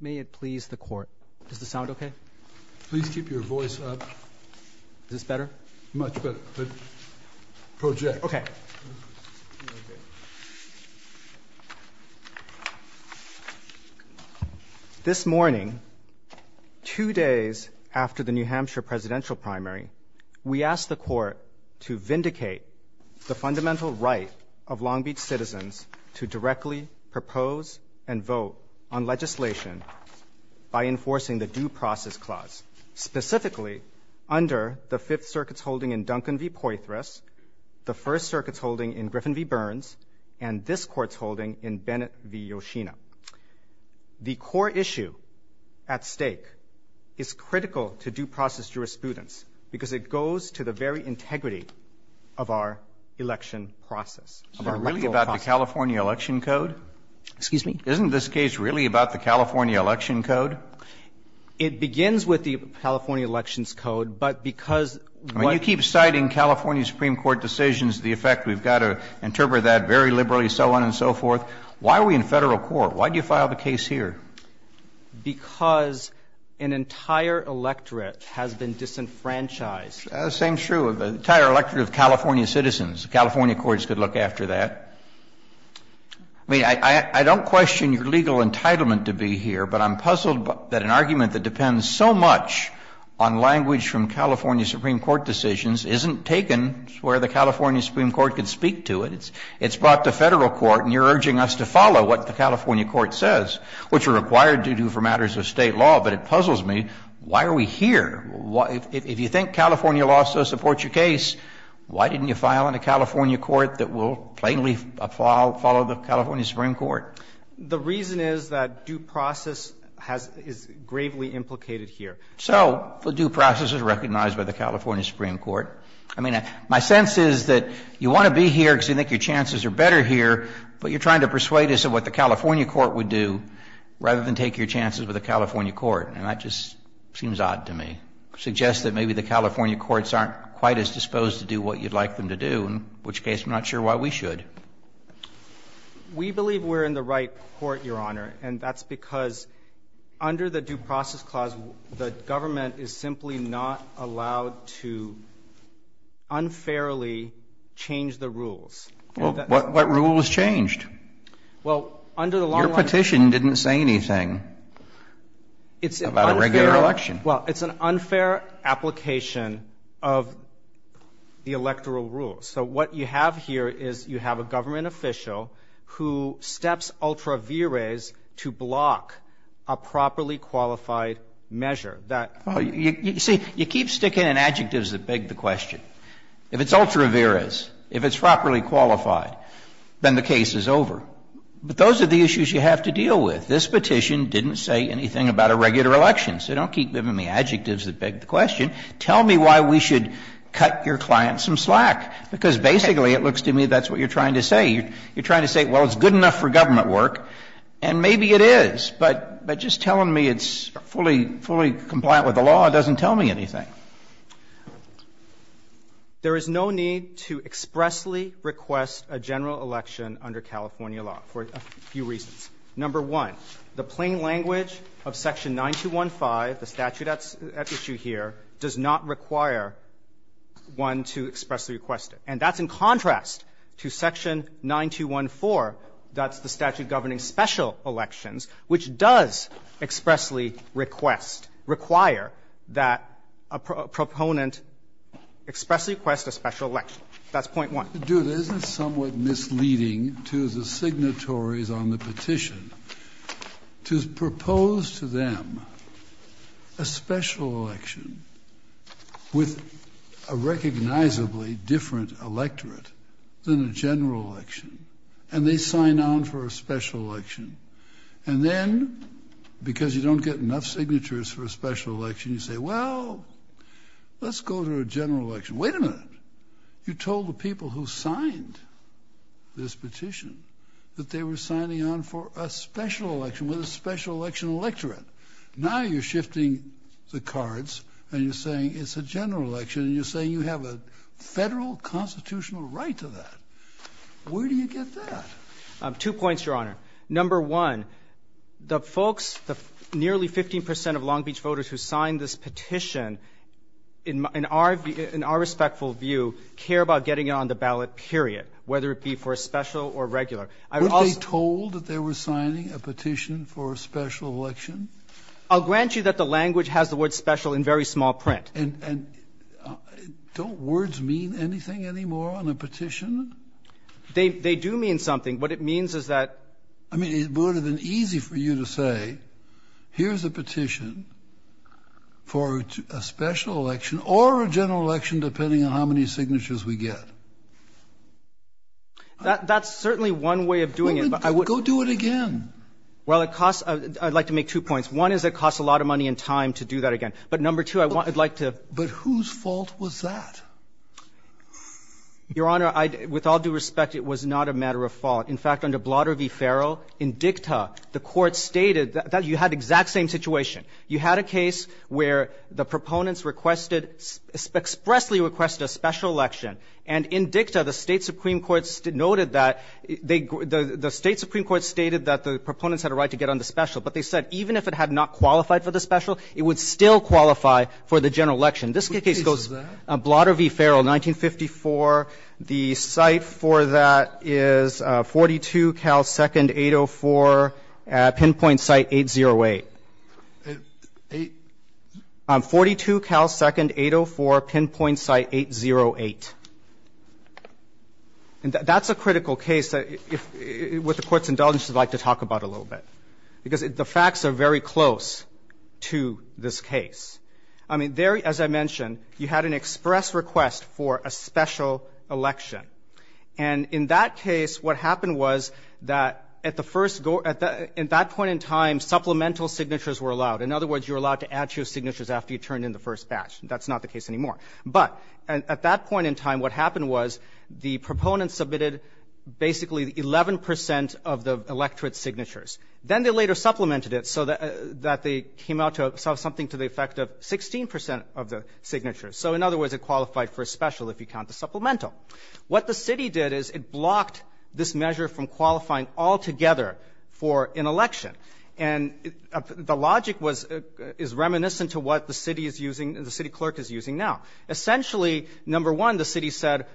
May it please the court. Does this sound okay? Please keep your voice up. Is this better? Much better. Project. Okay. This morning, two days after the New Hampshire presidential primary, we asked the court to vindicate the fundamental right of Long Beach citizens to directly propose and vote on legislation by enforcing the Due Process Clause, specifically under the Fifth Circuit's holding in Duncan v. Poythress, the First Circuit's holding in Griffin v. Burns, and this court's holding in Bennett v. Yoshino. The core issue at stake is critical to due process jurisprudence because it goes to the very integrity of our election process. Is it really about the California Election Code? Excuse me? Isn't this case really about the California Election Code? It begins with the California Elections Code, but because what You keep citing California Supreme Court decisions, the effect we've got to interpret that very liberally, so on and so forth. Why are we in Federal court? Why do you file the case here? Because an entire electorate has been disenfranchised. The same is true of the entire electorate of California citizens. The California courts could look after that. I mean, I don't question your legal entitlement to be here, but I'm puzzled that an argument that depends so much on language from California Supreme Court decisions isn't taken where the California Supreme Court can speak It's brought to Federal court and you're urging us to follow what the California court says, which are required to do for matters of State law, but it puzzles me, why are we here? If you think California law so supports your case, why didn't you file in a California court that will plainly follow the California Supreme Court? The reason is that due process is gravely implicated here. So the due process is recognized by the California Supreme Court. I mean, my sense is that you want to be here because you think your chances are better here, but you're trying to persuade us of what the California court would do rather than take your chances with a California court. And that just seems odd to me. Suggests that maybe the California courts aren't quite as disposed to do what you'd like them to do, in which case I'm not sure why we should. We believe we're in the right court, Your Honor, and that's because under the Due Process Clause, the government is simply not allowed to unfairly change the rules. Well, what rules changed? Well, under the long-run rules. Your petition didn't say anything about a regular election. Well, it's an unfair application of the electoral rules. So what you have here is you have a government official who steps ultra vires to block a properly qualified measure. That you see, you keep sticking in adjectives that beg the question. If it's ultra vires, if it's properly qualified, then the case is over. But those are the issues you have to deal with. This petition didn't say anything about a regular election. So don't keep giving me adjectives that beg the question. Tell me why we should cut your clients some slack. Because basically it looks to me that's what you're trying to say. You're trying to say, well, it's good enough for government work, and maybe it is. But just telling me it's fully compliant with the law doesn't tell me anything. There is no need to expressly request a general election under California law for a few reasons. Number one, the plain language of section 9215, the statute at issue here, does not require one to expressly request it. And that's in contrast to section 9214, that's the statute governing special elections, which does expressly request, require that a proponent expressly request a special election. That's point one. Do it. Isn't it somewhat misleading to the signatories on the petition to propose to them a special election with a recognizably different electorate than a general election, and they sign on for a special election? And then, because you don't get enough signatures for a special election, you say, well, let's go to a general election. Wait a minute. You told the people who signed this petition that they were signing on for a special election with a special election electorate. Now you're shifting the cards, and you're saying it's a general election, and you're saying you have a federal constitutional right to that. Where do you get that? Two points, Your Honor. Number one, the folks, the nearly 15 percent of Long Beach voters who signed this petition, in our respectful view, care about getting it on the ballot, period, whether it be for a special or regular. Were they told that they were signing a petition for a special election? I'll grant you that the language has the word special in very small print. And don't words mean anything anymore on a petition? They do mean something. What it means is that ---- I mean, it would have been easy for you to say, here's a petition for a special election or a general election, depending on how many signatures we get. That's certainly one way of doing it. Go do it again. Well, it costs ---- I'd like to make two points. One is it costs a lot of money and time to do that again. But number two, I'd like to ---- But whose fault was that? Your Honor, with all due respect, it was not a matter of fault. In fact, under Blotter v. Farrell, in dicta, the Court stated that you had the exact same situation. You had a case where the proponents requested, expressly requested a special election. And in dicta, the State supreme court noted that they ---- the State supreme court stated that the proponents had a right to get on the special. But they said even if it had not qualified for the special, it would still qualify for the general election. This case goes ---- What case is that? Blotter v. Farrell, 1954. The site for that is 42 Cal 2nd, 804, pinpoint site 808. 42 Cal 2nd, 804, pinpoint site 808. And that's a critical case that, with the Court's indulgence, I'd like to talk about a little bit. Because the facts are very close to this case. I mean, there, as I mentioned, you had an express request for a special election. And in that case, what happened was that at the first go ---- at that point in time, supplemental signatures were allowed. In other words, you were allowed to add your signatures after you turned in the first batch. That's not the case anymore. But at that point in time, what happened was the proponents submitted basically 11 percent of the electorate signatures. Then they later supplemented it so that they came out to have something to the effect of 16 percent of the signatures. So in other words, it qualified for a special if you count the supplemental. What the city did is it blocked this measure from qualifying altogether for an election. And the logic was ---- is reminiscent to what the city is using, the city clerk is using number one, the city said,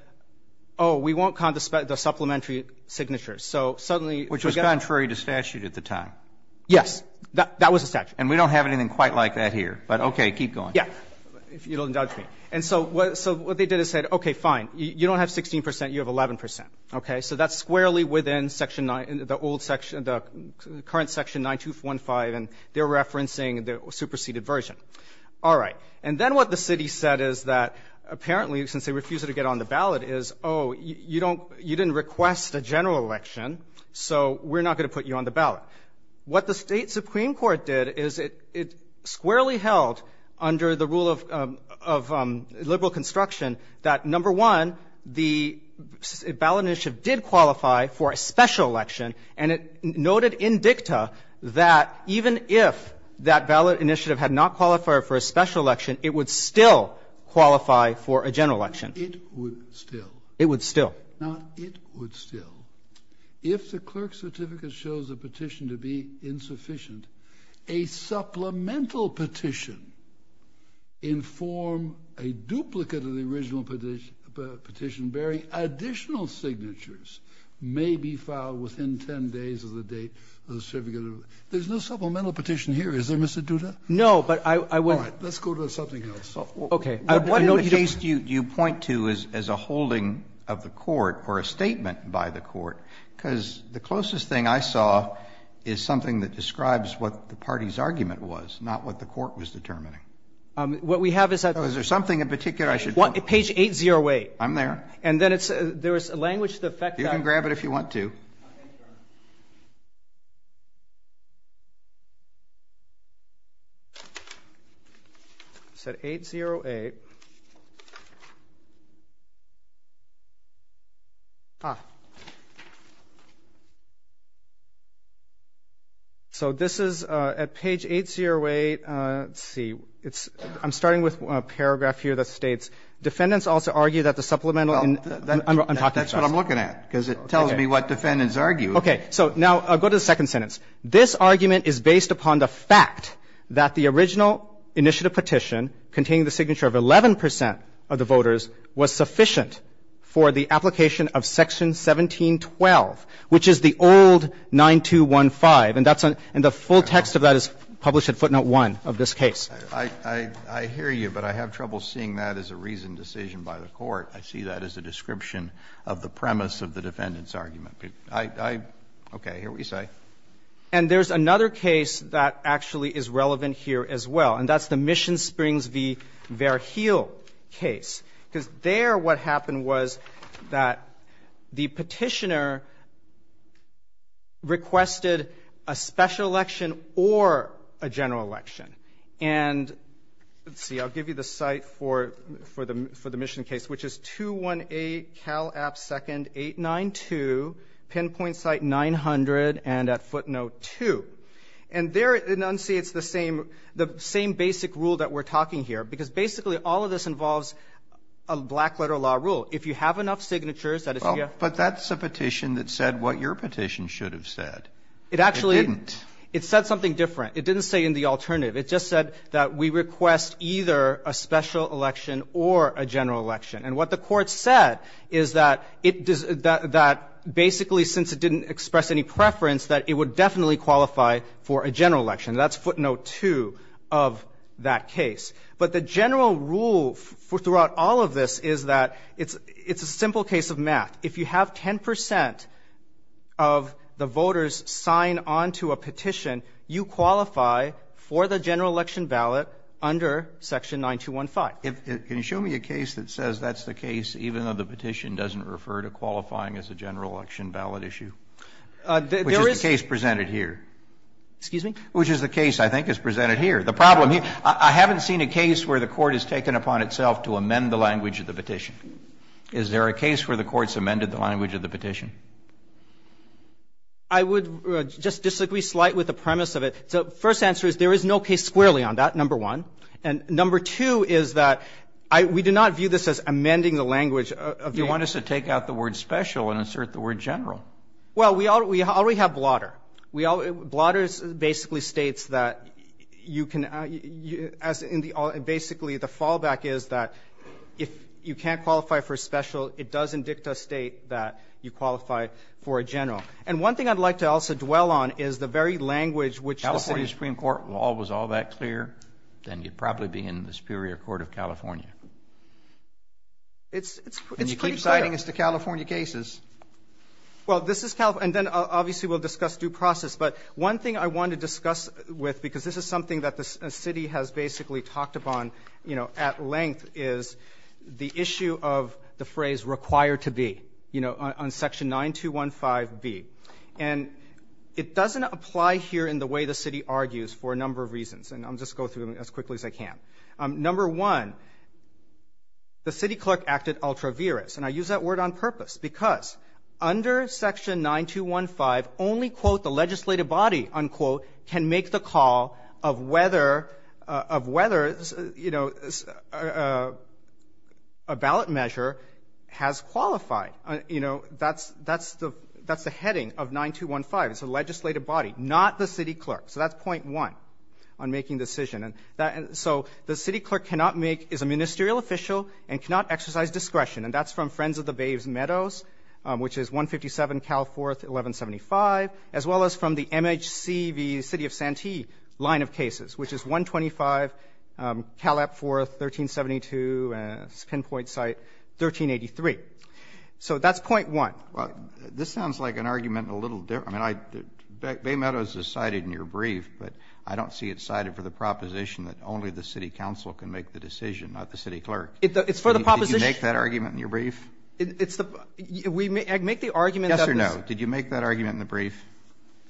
oh, we won't condescend the supplementary signatures. So suddenly ---- Roberts. Which was contrary to statute at the time. Yes. That was the statute. And we don't have anything quite like that here. But, okay, keep going. Yeah. If you don't indulge me. And so what they did is said, okay, fine. You don't have 16 percent. You have 11 percent. Okay. So that's squarely within section 9, the old section, the current section 9215, and they're referencing the superseded version. All right. And then what the city said is that apparently since they refused to get on the ballot is, oh, you don't ---- you didn't request a general election, so we're not going to put you on the ballot. What the state supreme court did is it squarely held under the rule of liberal construction that number one, the ballot initiative did qualify for a special election, and it noted in dicta that even if that ballot initiative had not qualified for a special election, it would still qualify for a general election. It would still. It would still. Now, it would still. If the clerk's certificate shows a petition to be insufficient, a supplemental petition in form a duplicate of the original petition bearing additional signatures may be filed within 10 days of the date of the certificate. There's no supplemental petition here. Is there, Mr. Duda? No, but I would ---- All right. Let's go to something else. Okay. What in the case do you point to as a holding of the court or a statement by the court? Because the closest thing I saw is something that describes what the party's argument was, not what the court was determining. What we have is that ---- Is there something in particular I should point to? Page 808. I'm there. Okay. And then there is language to the effect that ---- You can grab it if you want to. Okay. Sure. It said 808. Ah. So this is at page 808. Let's see. I'm starting with a paragraph here that states, Defendants also argue that the supplemental ---- Well, that's what I'm looking at, because it tells me what defendants argue. Okay. So now I'll go to the second sentence. This argument is based upon the fact that the original initiative petition containing the signature of 11 percent of the voters was sufficient for the application of section 1712, which is the old 9215. And that's an ---- and the full text of that is published at footnote 1 of this case. I hear you, but I have trouble seeing that as a reasoned decision by the Court. I see that as a description of the premise of the defendant's argument. I ---- okay. Here we say. And there's another case that actually is relevant here as well, and that's the Mission Springs v. Verheul case, because there what happened was that the Petitioner requested a special election or a general election. And let's see. I'll give you the site for the Mission case, which is 218 Cal App 2nd, 892, pinpoint site 900 and at footnote 2. And there it enunciates the same basic rule that we're talking here, because basically all of this involves a black-letter law rule. If you have enough signatures that it's ---- But that's a petition that said what your petition should have said. It didn't. It actually ---- it said something different. It didn't say in the alternative. It just said that we request either a special election or a general election. And what the Court said is that it does ---- that basically since it didn't express any preference, that it would definitely qualify for a general election. That's footnote 2 of that case. But the general rule throughout all of this is that it's a simple case of math. If you have 10 percent of the voters sign on to a petition, you qualify for the general election ballot under Section 9215. Can you show me a case that says that's the case, even though the petition doesn't refer to qualifying as a general election ballot issue? There is ---- Which is the case presented here. Excuse me? Which is the case I think is presented here. The problem here ---- I haven't seen a case where the Court has taken upon itself to amend the language of the petition. Is there a case where the Court's amended the language of the petition? I would just disagree slight with the premise of it. So first answer is there is no case squarely on that, number one. And number two is that we do not view this as amending the language of the ---- You want us to take out the word special and insert the word general. Well, we already have Blotter. Blotter basically states that you can ---- basically the fallback is that if you can't qualify for a special, it doesn't dictate that you qualify for a general. And one thing I'd like to also dwell on is the very language which the city ---- If the California Supreme Court wall was all that clear, then you'd probably be in the Superior Court of California. It's pretty clear. And you keep citing us to California cases. Well, this is California. And then obviously we'll discuss due process. But one thing I want to discuss with, because this is something that the city has basically talked upon, you know, at length, is the issue of the phrase required to be, you know, on Section 9215b. And it doesn't apply here in the way the city argues for a number of reasons. And I'll just go through them as quickly as I can. Number one, the city clerk acted ultra-virus. And I use that word on purpose because under Section 9215, only, quote, the legislative body, unquote, can make the call of whether, you know, a ballot measure has qualified. You know, that's the heading of 9215. It's the legislative body, not the city clerk. So that's point one on making the decision. So the city clerk cannot make ---- is a ministerial official and cannot exercise discretion. And that's from Friends of the Bay's Meadows, which is 157 Cal 4th, 1175, as well as from the MHC v. City of Santee line of cases, which is 125 Cal App 4th, 1372, pinpoint site, 1383. So that's point one. This sounds like an argument a little different. I mean, Bay Meadows is cited in your brief, but I don't see it cited for the proposition that only the city council can make the decision, not the city clerk. It's for the proposition. Kennedy, did you make that argument in your brief? It's the ---- we make the argument that this ---- Yes or no? Did you make that argument in the brief?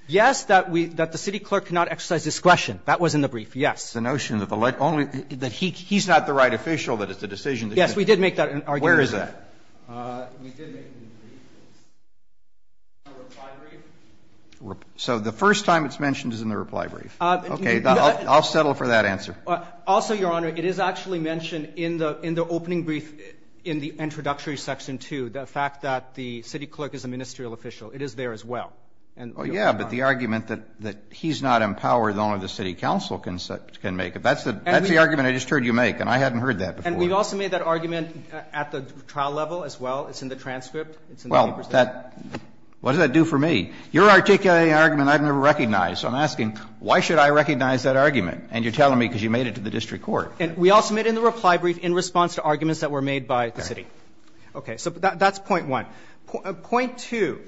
Yes, that we ---- that the city clerk cannot exercise discretion. That was in the brief, yes. The notion that the only ---- that he's not the right official, that it's a decision that you can make. Yes, we did make that argument. Where is that? We did make it in the brief. It's in the reply brief. So the first time it's mentioned is in the reply brief. Okay. I'll settle for that answer. Also, Your Honor, it is actually mentioned in the opening brief in the introductory section 2, the fact that the city clerk is a ministerial official. It is there as well. Oh, yeah, but the argument that he's not empowered, only the city council can make it, that's the argument I just heard you make, and I hadn't heard that before. And we've also made that argument at the trial level as well. It's in the transcript. It's in the papers. Well, that ---- what does that do for me? You're articulating an argument I've never recognized, so I'm asking why should I recognize that argument? And you're telling me because you made it to the district court. We also made it in the reply brief in response to arguments that were made by the city. Okay. So that's point one. Point two,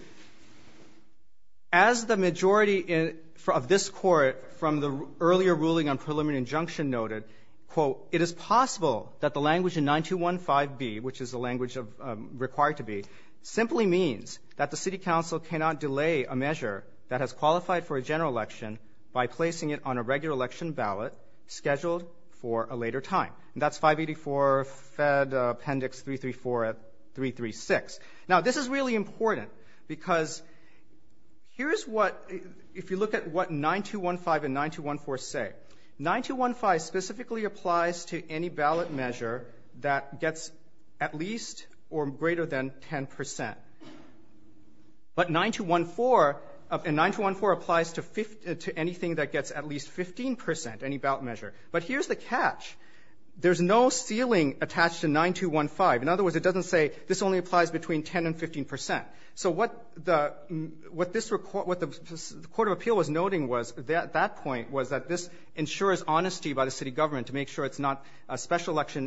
as the majority of this Court from the earlier ruling on preliminary injunction noted, quote, it is possible that the language in 9215B, which is the for a general election by placing it on a regular election ballot scheduled for a later time. And that's 584 Fed Appendix 334 at 336. Now, this is really important because here's what ---- if you look at what 9215 and 9214 say, 9215 specifically applies to any ballot measure that gets at least or greater than 10%. But 9214 ---- and 9214 applies to anything that gets at least 15%, any ballot measure. But here's the catch. There's no ceiling attached to 9215. In other words, it doesn't say this only applies between 10 and 15%. So what the ---- what this ---- what the Court of Appeal was noting was at that point was that this ensures honesty by the city government to make sure it's not ---- a special election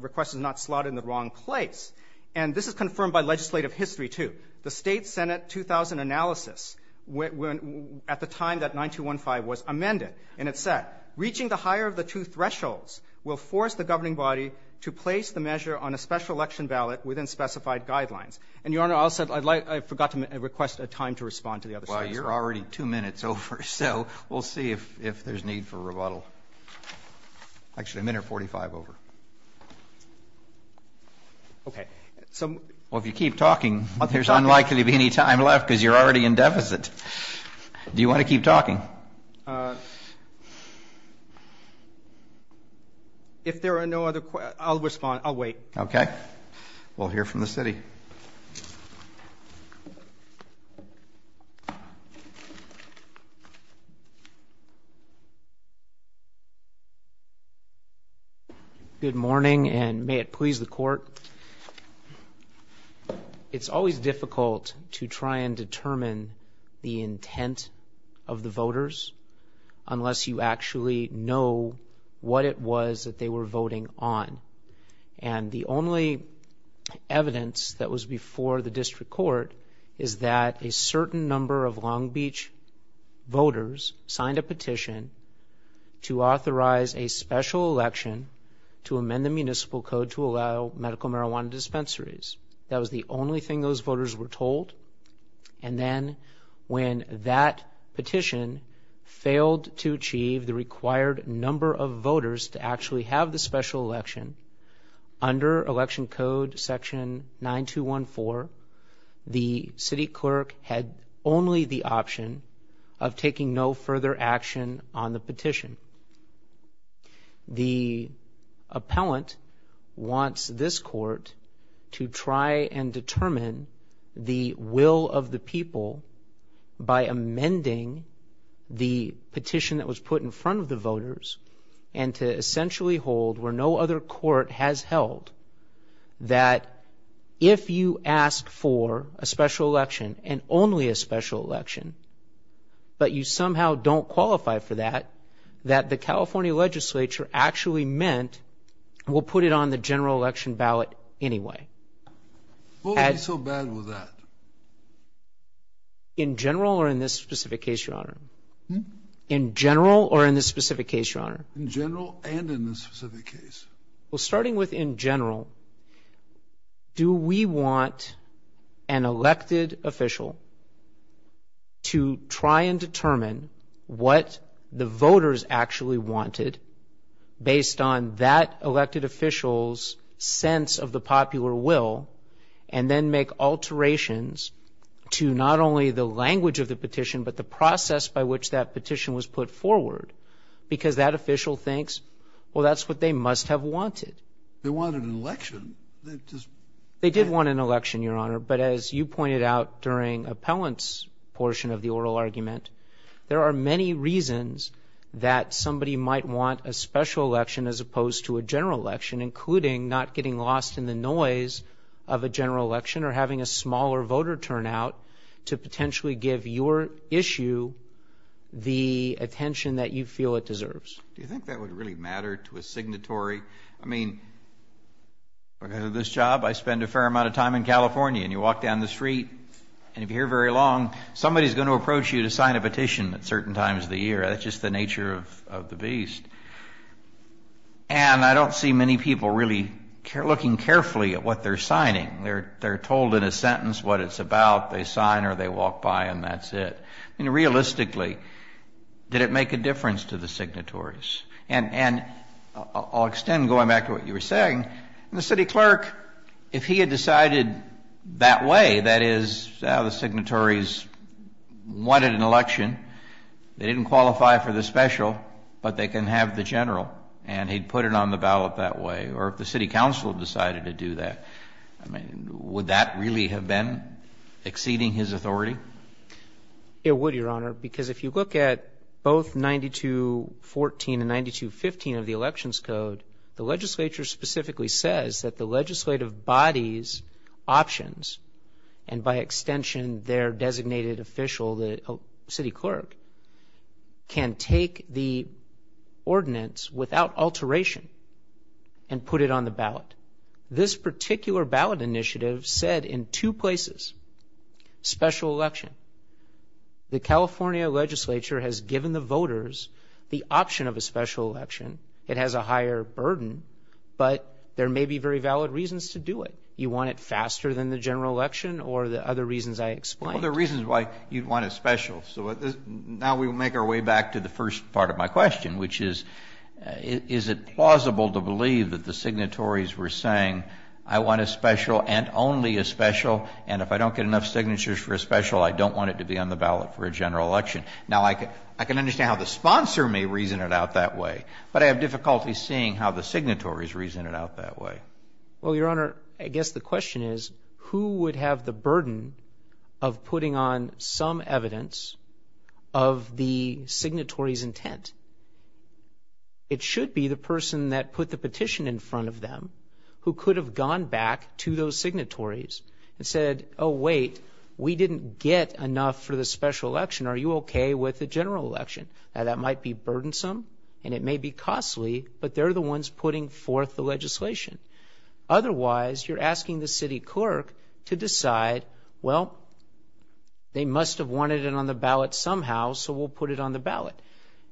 request is not slotted in the wrong place. And this is confirmed by legislative history, too. The State Senate 2000 analysis at the time that 9215 was amended, and it said, reaching the higher of the two thresholds will force the governing body to place the measure on a special election ballot within specified guidelines. And, Your Honor, I'll set ---- I'd like ---- I forgot to request a time to respond to the other states. Well, you're already two minutes over, so we'll see if there's need for rebuttal. Actually, a minute 45 over. Okay. So ---- Well, if you keep talking, there's unlikely to be any time left because you're already in deficit. Do you want to keep talking? If there are no other questions, I'll respond. I'll wait. Okay. We'll hear from the city. Good morning, and may it please the Court. It's always difficult to try and determine the intent of the voters unless you actually know what it was that they were voting on. And the only evidence that was before the district court is that a certain number of to allow medical marijuana dispensaries. That was the only thing those voters were told. And then when that petition failed to achieve the required number of voters to actually have the special election, under Election Code Section 9214, the city clerk had only the option of taking no further action on the petition. The appellant wants this court to try and determine the will of the people by amending the petition that was put in front of the voters and to essentially hold where no other court has held that if you ask for a special election and only a special election, but you somehow don't qualify for that, that the California legislature actually meant we'll put it on the general election ballot anyway. What would be so bad with that? In general or in this specific case, Your Honor? In general or in this specific case, Your Honor? In general and in this specific case. Well, starting with in general, do we want an elected official to try and determine what the voters actually wanted based on that elected official's sense of the popular will and then make alterations to not only the language of the petition, but the process by which that petition was put forward, because that official thinks, well, that's what they must have wanted. They wanted an election. They did want an election, Your Honor, but as you pointed out during appellant's portion of the oral argument, there are many reasons that somebody might want a special election as opposed to a general election, including not getting lost in the noise of a general election or having a general election. And so I think it's important to have the attention that you feel it deserves. Do you think that would really matter to a signatory? I mean, because of this job, I spend a fair amount of time in California, and you walk down the street, and if you're here very long, somebody's going to approach you to sign a petition at certain times of the year. That's just the nature of the beast. And I don't see many people really looking carefully at what they're signing. They're told in a sentence what it's about. They sign, or they walk by, and that's it. I mean, realistically, did it make a difference to the signatories? And I'll extend going back to what you were saying. The city clerk, if he had decided that way, that is, the signatories wanted an election, they didn't qualify for the special, but they can have the general, and he'd put it on the ballot that way, or if the city council decided to do that, I mean, would that really have been exceeding his authority? It would, Your Honor, because if you look at both 9214 and 9215 of the Elections Code, the legislature specifically says that the legislative body's options, and by extension, their options, can take the ordinance without alteration and put it on the ballot. This particular ballot initiative said in two places, special election. The California legislature has given the voters the option of a special election. It has a higher burden, but there may be very valid reasons to do it. You want it faster than the general election or the other reasons I explained. Well, there are reasons why you'd want it special. So now we will make our way back to the first part of my question, which is, is it plausible to believe that the signatories were saying, I want a special and only a special, and if I don't get enough signatures for a special, I don't want it to be on the ballot for a general election? Now, I can understand how the sponsor may reason it out that way, but I have difficulty seeing how the signatories reason it out that way. Well, Your Honor, I guess the question is, who would have the burden of putting on some evidence of the signatory's intent? It should be the person that put the petition in front of them who could have gone back to those signatories and said, oh, wait, we didn't get enough for the special election. Are you okay with the general election? Now, that might be burdensome and it may be costly, but they're the ones putting forth the evidence. Otherwise, you're asking the city clerk to decide, well, they must have wanted it on the ballot somehow, so we'll put it on the ballot.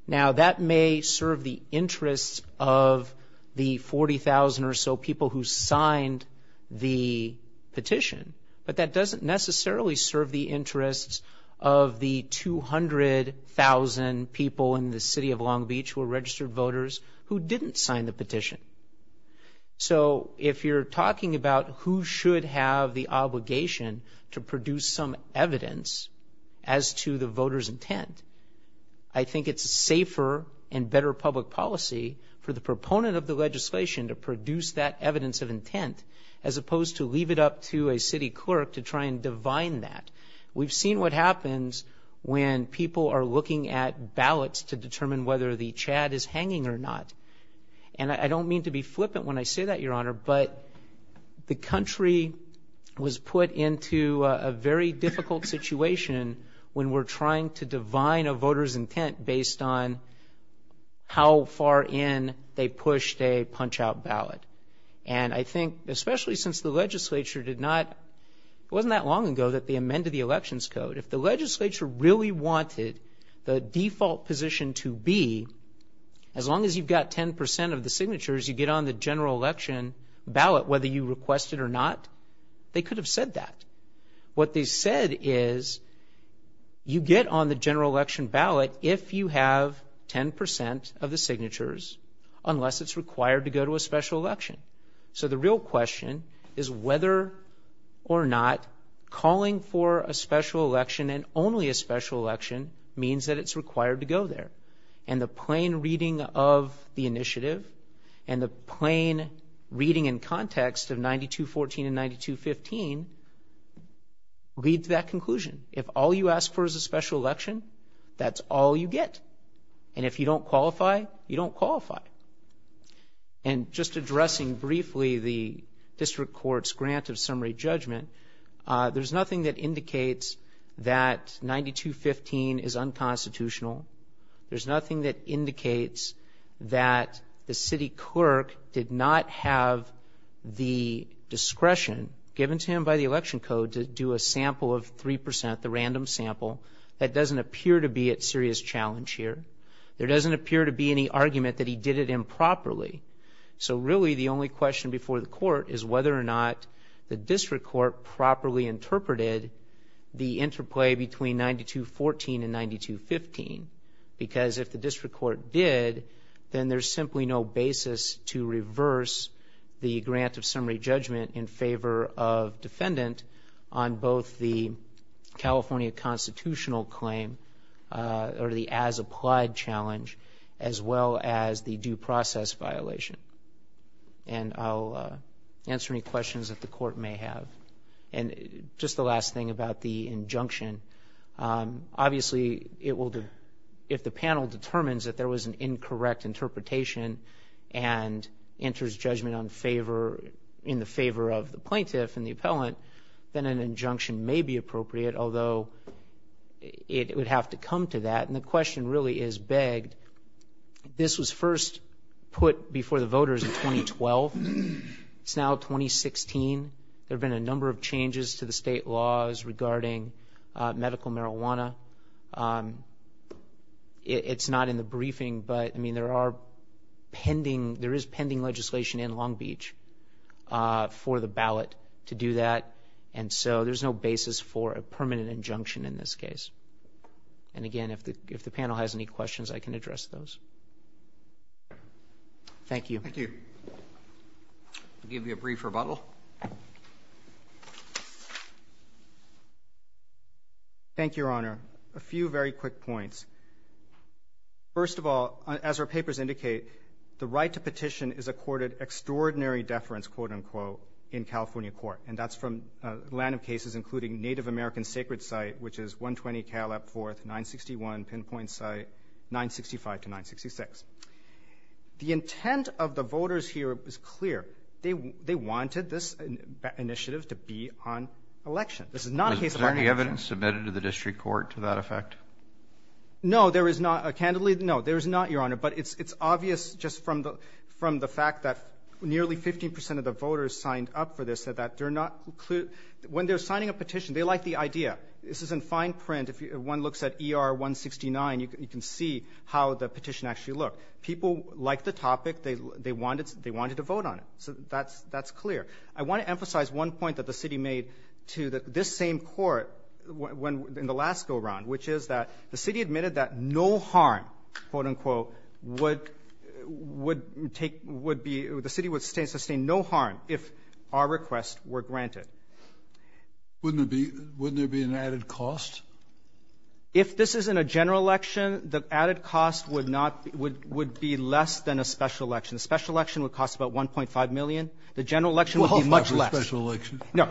Now, that may serve the interests of the 40,000 or so people who signed the petition, but that doesn't necessarily serve the interests of the 200,000 people in the city of Long Beach who are registered voters who didn't sign the petition. So if you're talking about who should have the obligation to produce some evidence as to the voter's intent, I think it's safer and better public policy for the proponent of the legislation to produce that evidence of intent as opposed to leave it up to a city clerk to try and divine that. We've seen what happens when people are looking at ballots to determine whether the chad is hanging or not. And I don't mean to be flippant when I say that, Your Honor, but the country was put into a very difficult situation when we're trying to divine a voter's intent based on how far in they pushed a punch-out ballot. And I think especially since the legislature did not, it wasn't that long ago that they amended the As long as you've got 10% of the signatures, you get on the general election ballot whether you request it or not. They could have said that. What they said is you get on the general election ballot if you have 10% of the signatures unless it's required to go to a special election. So the real question is whether or not calling for a special election and only a special election means that it's required to go there. And the plain reading of the initiative and the plain reading and context of 9214 and 9215 lead to that conclusion. If all you ask for is a special election, that's all you get. And if you don't qualify, you don't qualify. And just addressing briefly the district court's grant of summary judgment, there's nothing that indicates that 9215 is unconstitutional. There's nothing that indicates that the city clerk did not have the discretion given to him by the election code to do a sample of 3%, the random sample. That doesn't appear to be a serious challenge here. There doesn't appear to be any argument that he did it improperly. So really the only question before the court is whether or not the district court properly interpreted the interplay between 9214 and 9215. Because if the district court did, then there's simply no basis to reverse the grant of summary judgment in favor of defendant on both the California constitutional claim or the as applied challenge as well as the due process violation. And I'll answer any questions that the court may have. And just the last thing about the injunction. Obviously, if the panel determines that there was an incorrect interpretation and enters judgment in the favor of the plaintiff and the appellant, then an injunction may be appropriate, although it would have to come to that. And the question really is begged. This was first put before the voters in 2012. It's now 2016. There have been a number of changes to the state laws regarding medical marijuana. It's not in the briefing, but there is pending legislation in Long Beach for the ballot to do that. And so there's no basis for a permanent injunction in this case. And again, if the panel has any questions, I can address those. Thank you. Thank you. I'll give you a brief rebuttal. Thank you, Your Honor. A few very quick points. First of all, as our papers indicate, the right to petition is accorded extraordinary deference, quote, unquote, in California court. And that's from random cases including Native American Sacred Site, which is 120 Caleb 4th, 961 Pinpoint Site, 965 to 966. The intent of the voters here is clear. They wanted this initiative to be on election. This is not a case of election. Was there any evidence submitted to the district court to that effect? No, there is not. Candidly, no, there is not, Your Honor. But it's obvious just from the fact that nearly 15 percent of the voters signed up for this that they're not clear. When they're signing a petition, they like the idea. This is in fine print. If one looks at ER 169, you can see how the petition actually looked. People like the topic. They wanted to vote on it. So that's clear. I want to emphasize one point that the city made to this same court in the last go-around, which is that the city admitted that no harm, quote, unquote, would take or the city would sustain no harm if our requests were granted. Wouldn't there be an added cost? If this is in a general election, the added cost would be less than a special election. A special election would cost about $1.5 million. The general election would be much less. No,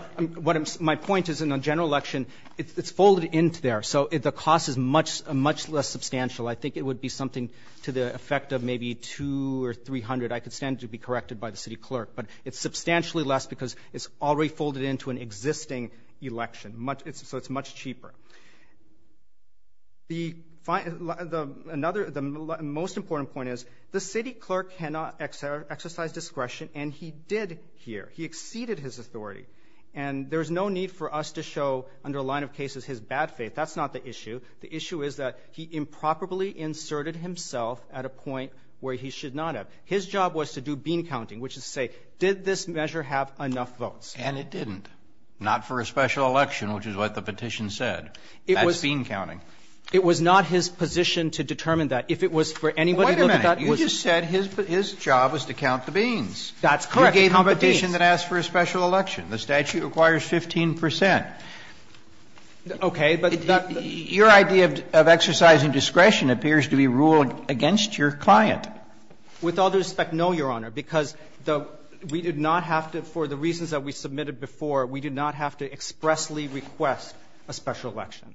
my point is in a general election, it's folded into there. So the cost is much less substantial. I think it would be something to the effect of maybe $200 or $300. I could stand to be corrected by the city clerk. But it's substantially less because it's already folded into an existing election. So it's much cheaper. The most important point is the city clerk cannot exercise discretion, and he did here. He exceeded his authority. And there's no need for us to show under a line of cases his bad faith. That's not the issue. The issue is that he improperly inserted himself at a point where he should not have. His job was to do bean counting, which is to say, did this measure have enough votes? And it didn't. Not for a special election, which is what the petition said. That's bean counting. It was not his position to determine that. If it was for anybody to look at that, it wasn't. Wait a minute. You just said his job was to count the beans. That's correct. Count the beans. You gave the petition that asked for a special election. The statute requires 15 percent. Okay. Your idea of exercising discretion appears to be ruled against your client. With all due respect, no, Your Honor, because we did not have to, for the reasons that we submitted before, we did not have to expressly request a special election.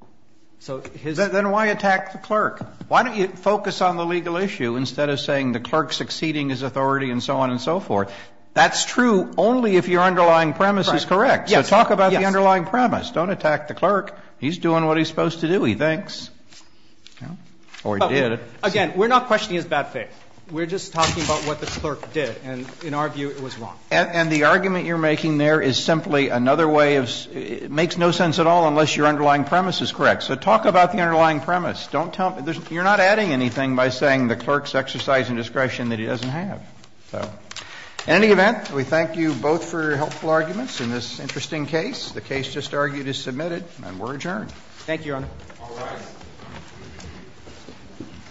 So his ---- Then why attack the clerk? Why don't you focus on the legal issue instead of saying the clerk's exceeding his authority and so on and so forth? That's true only if your underlying premise is correct. Yes. So talk about the underlying premise. Don't attack the clerk. He's doing what he's supposed to do, he thinks. Or he did. Again, we're not questioning his bad faith. We're just talking about what the clerk did. And in our view, it was wrong. And the argument you're making there is simply another way of ---- it makes no sense at all unless your underlying premise is correct. So talk about the underlying premise. Don't tell me ---- you're not adding anything by saying the clerk's exercising discretion that he doesn't have. So in any event, we thank you both for your helpful arguments in this interesting case. The case just argued is submitted and we're adjourned. Thank you, Your Honor. All right.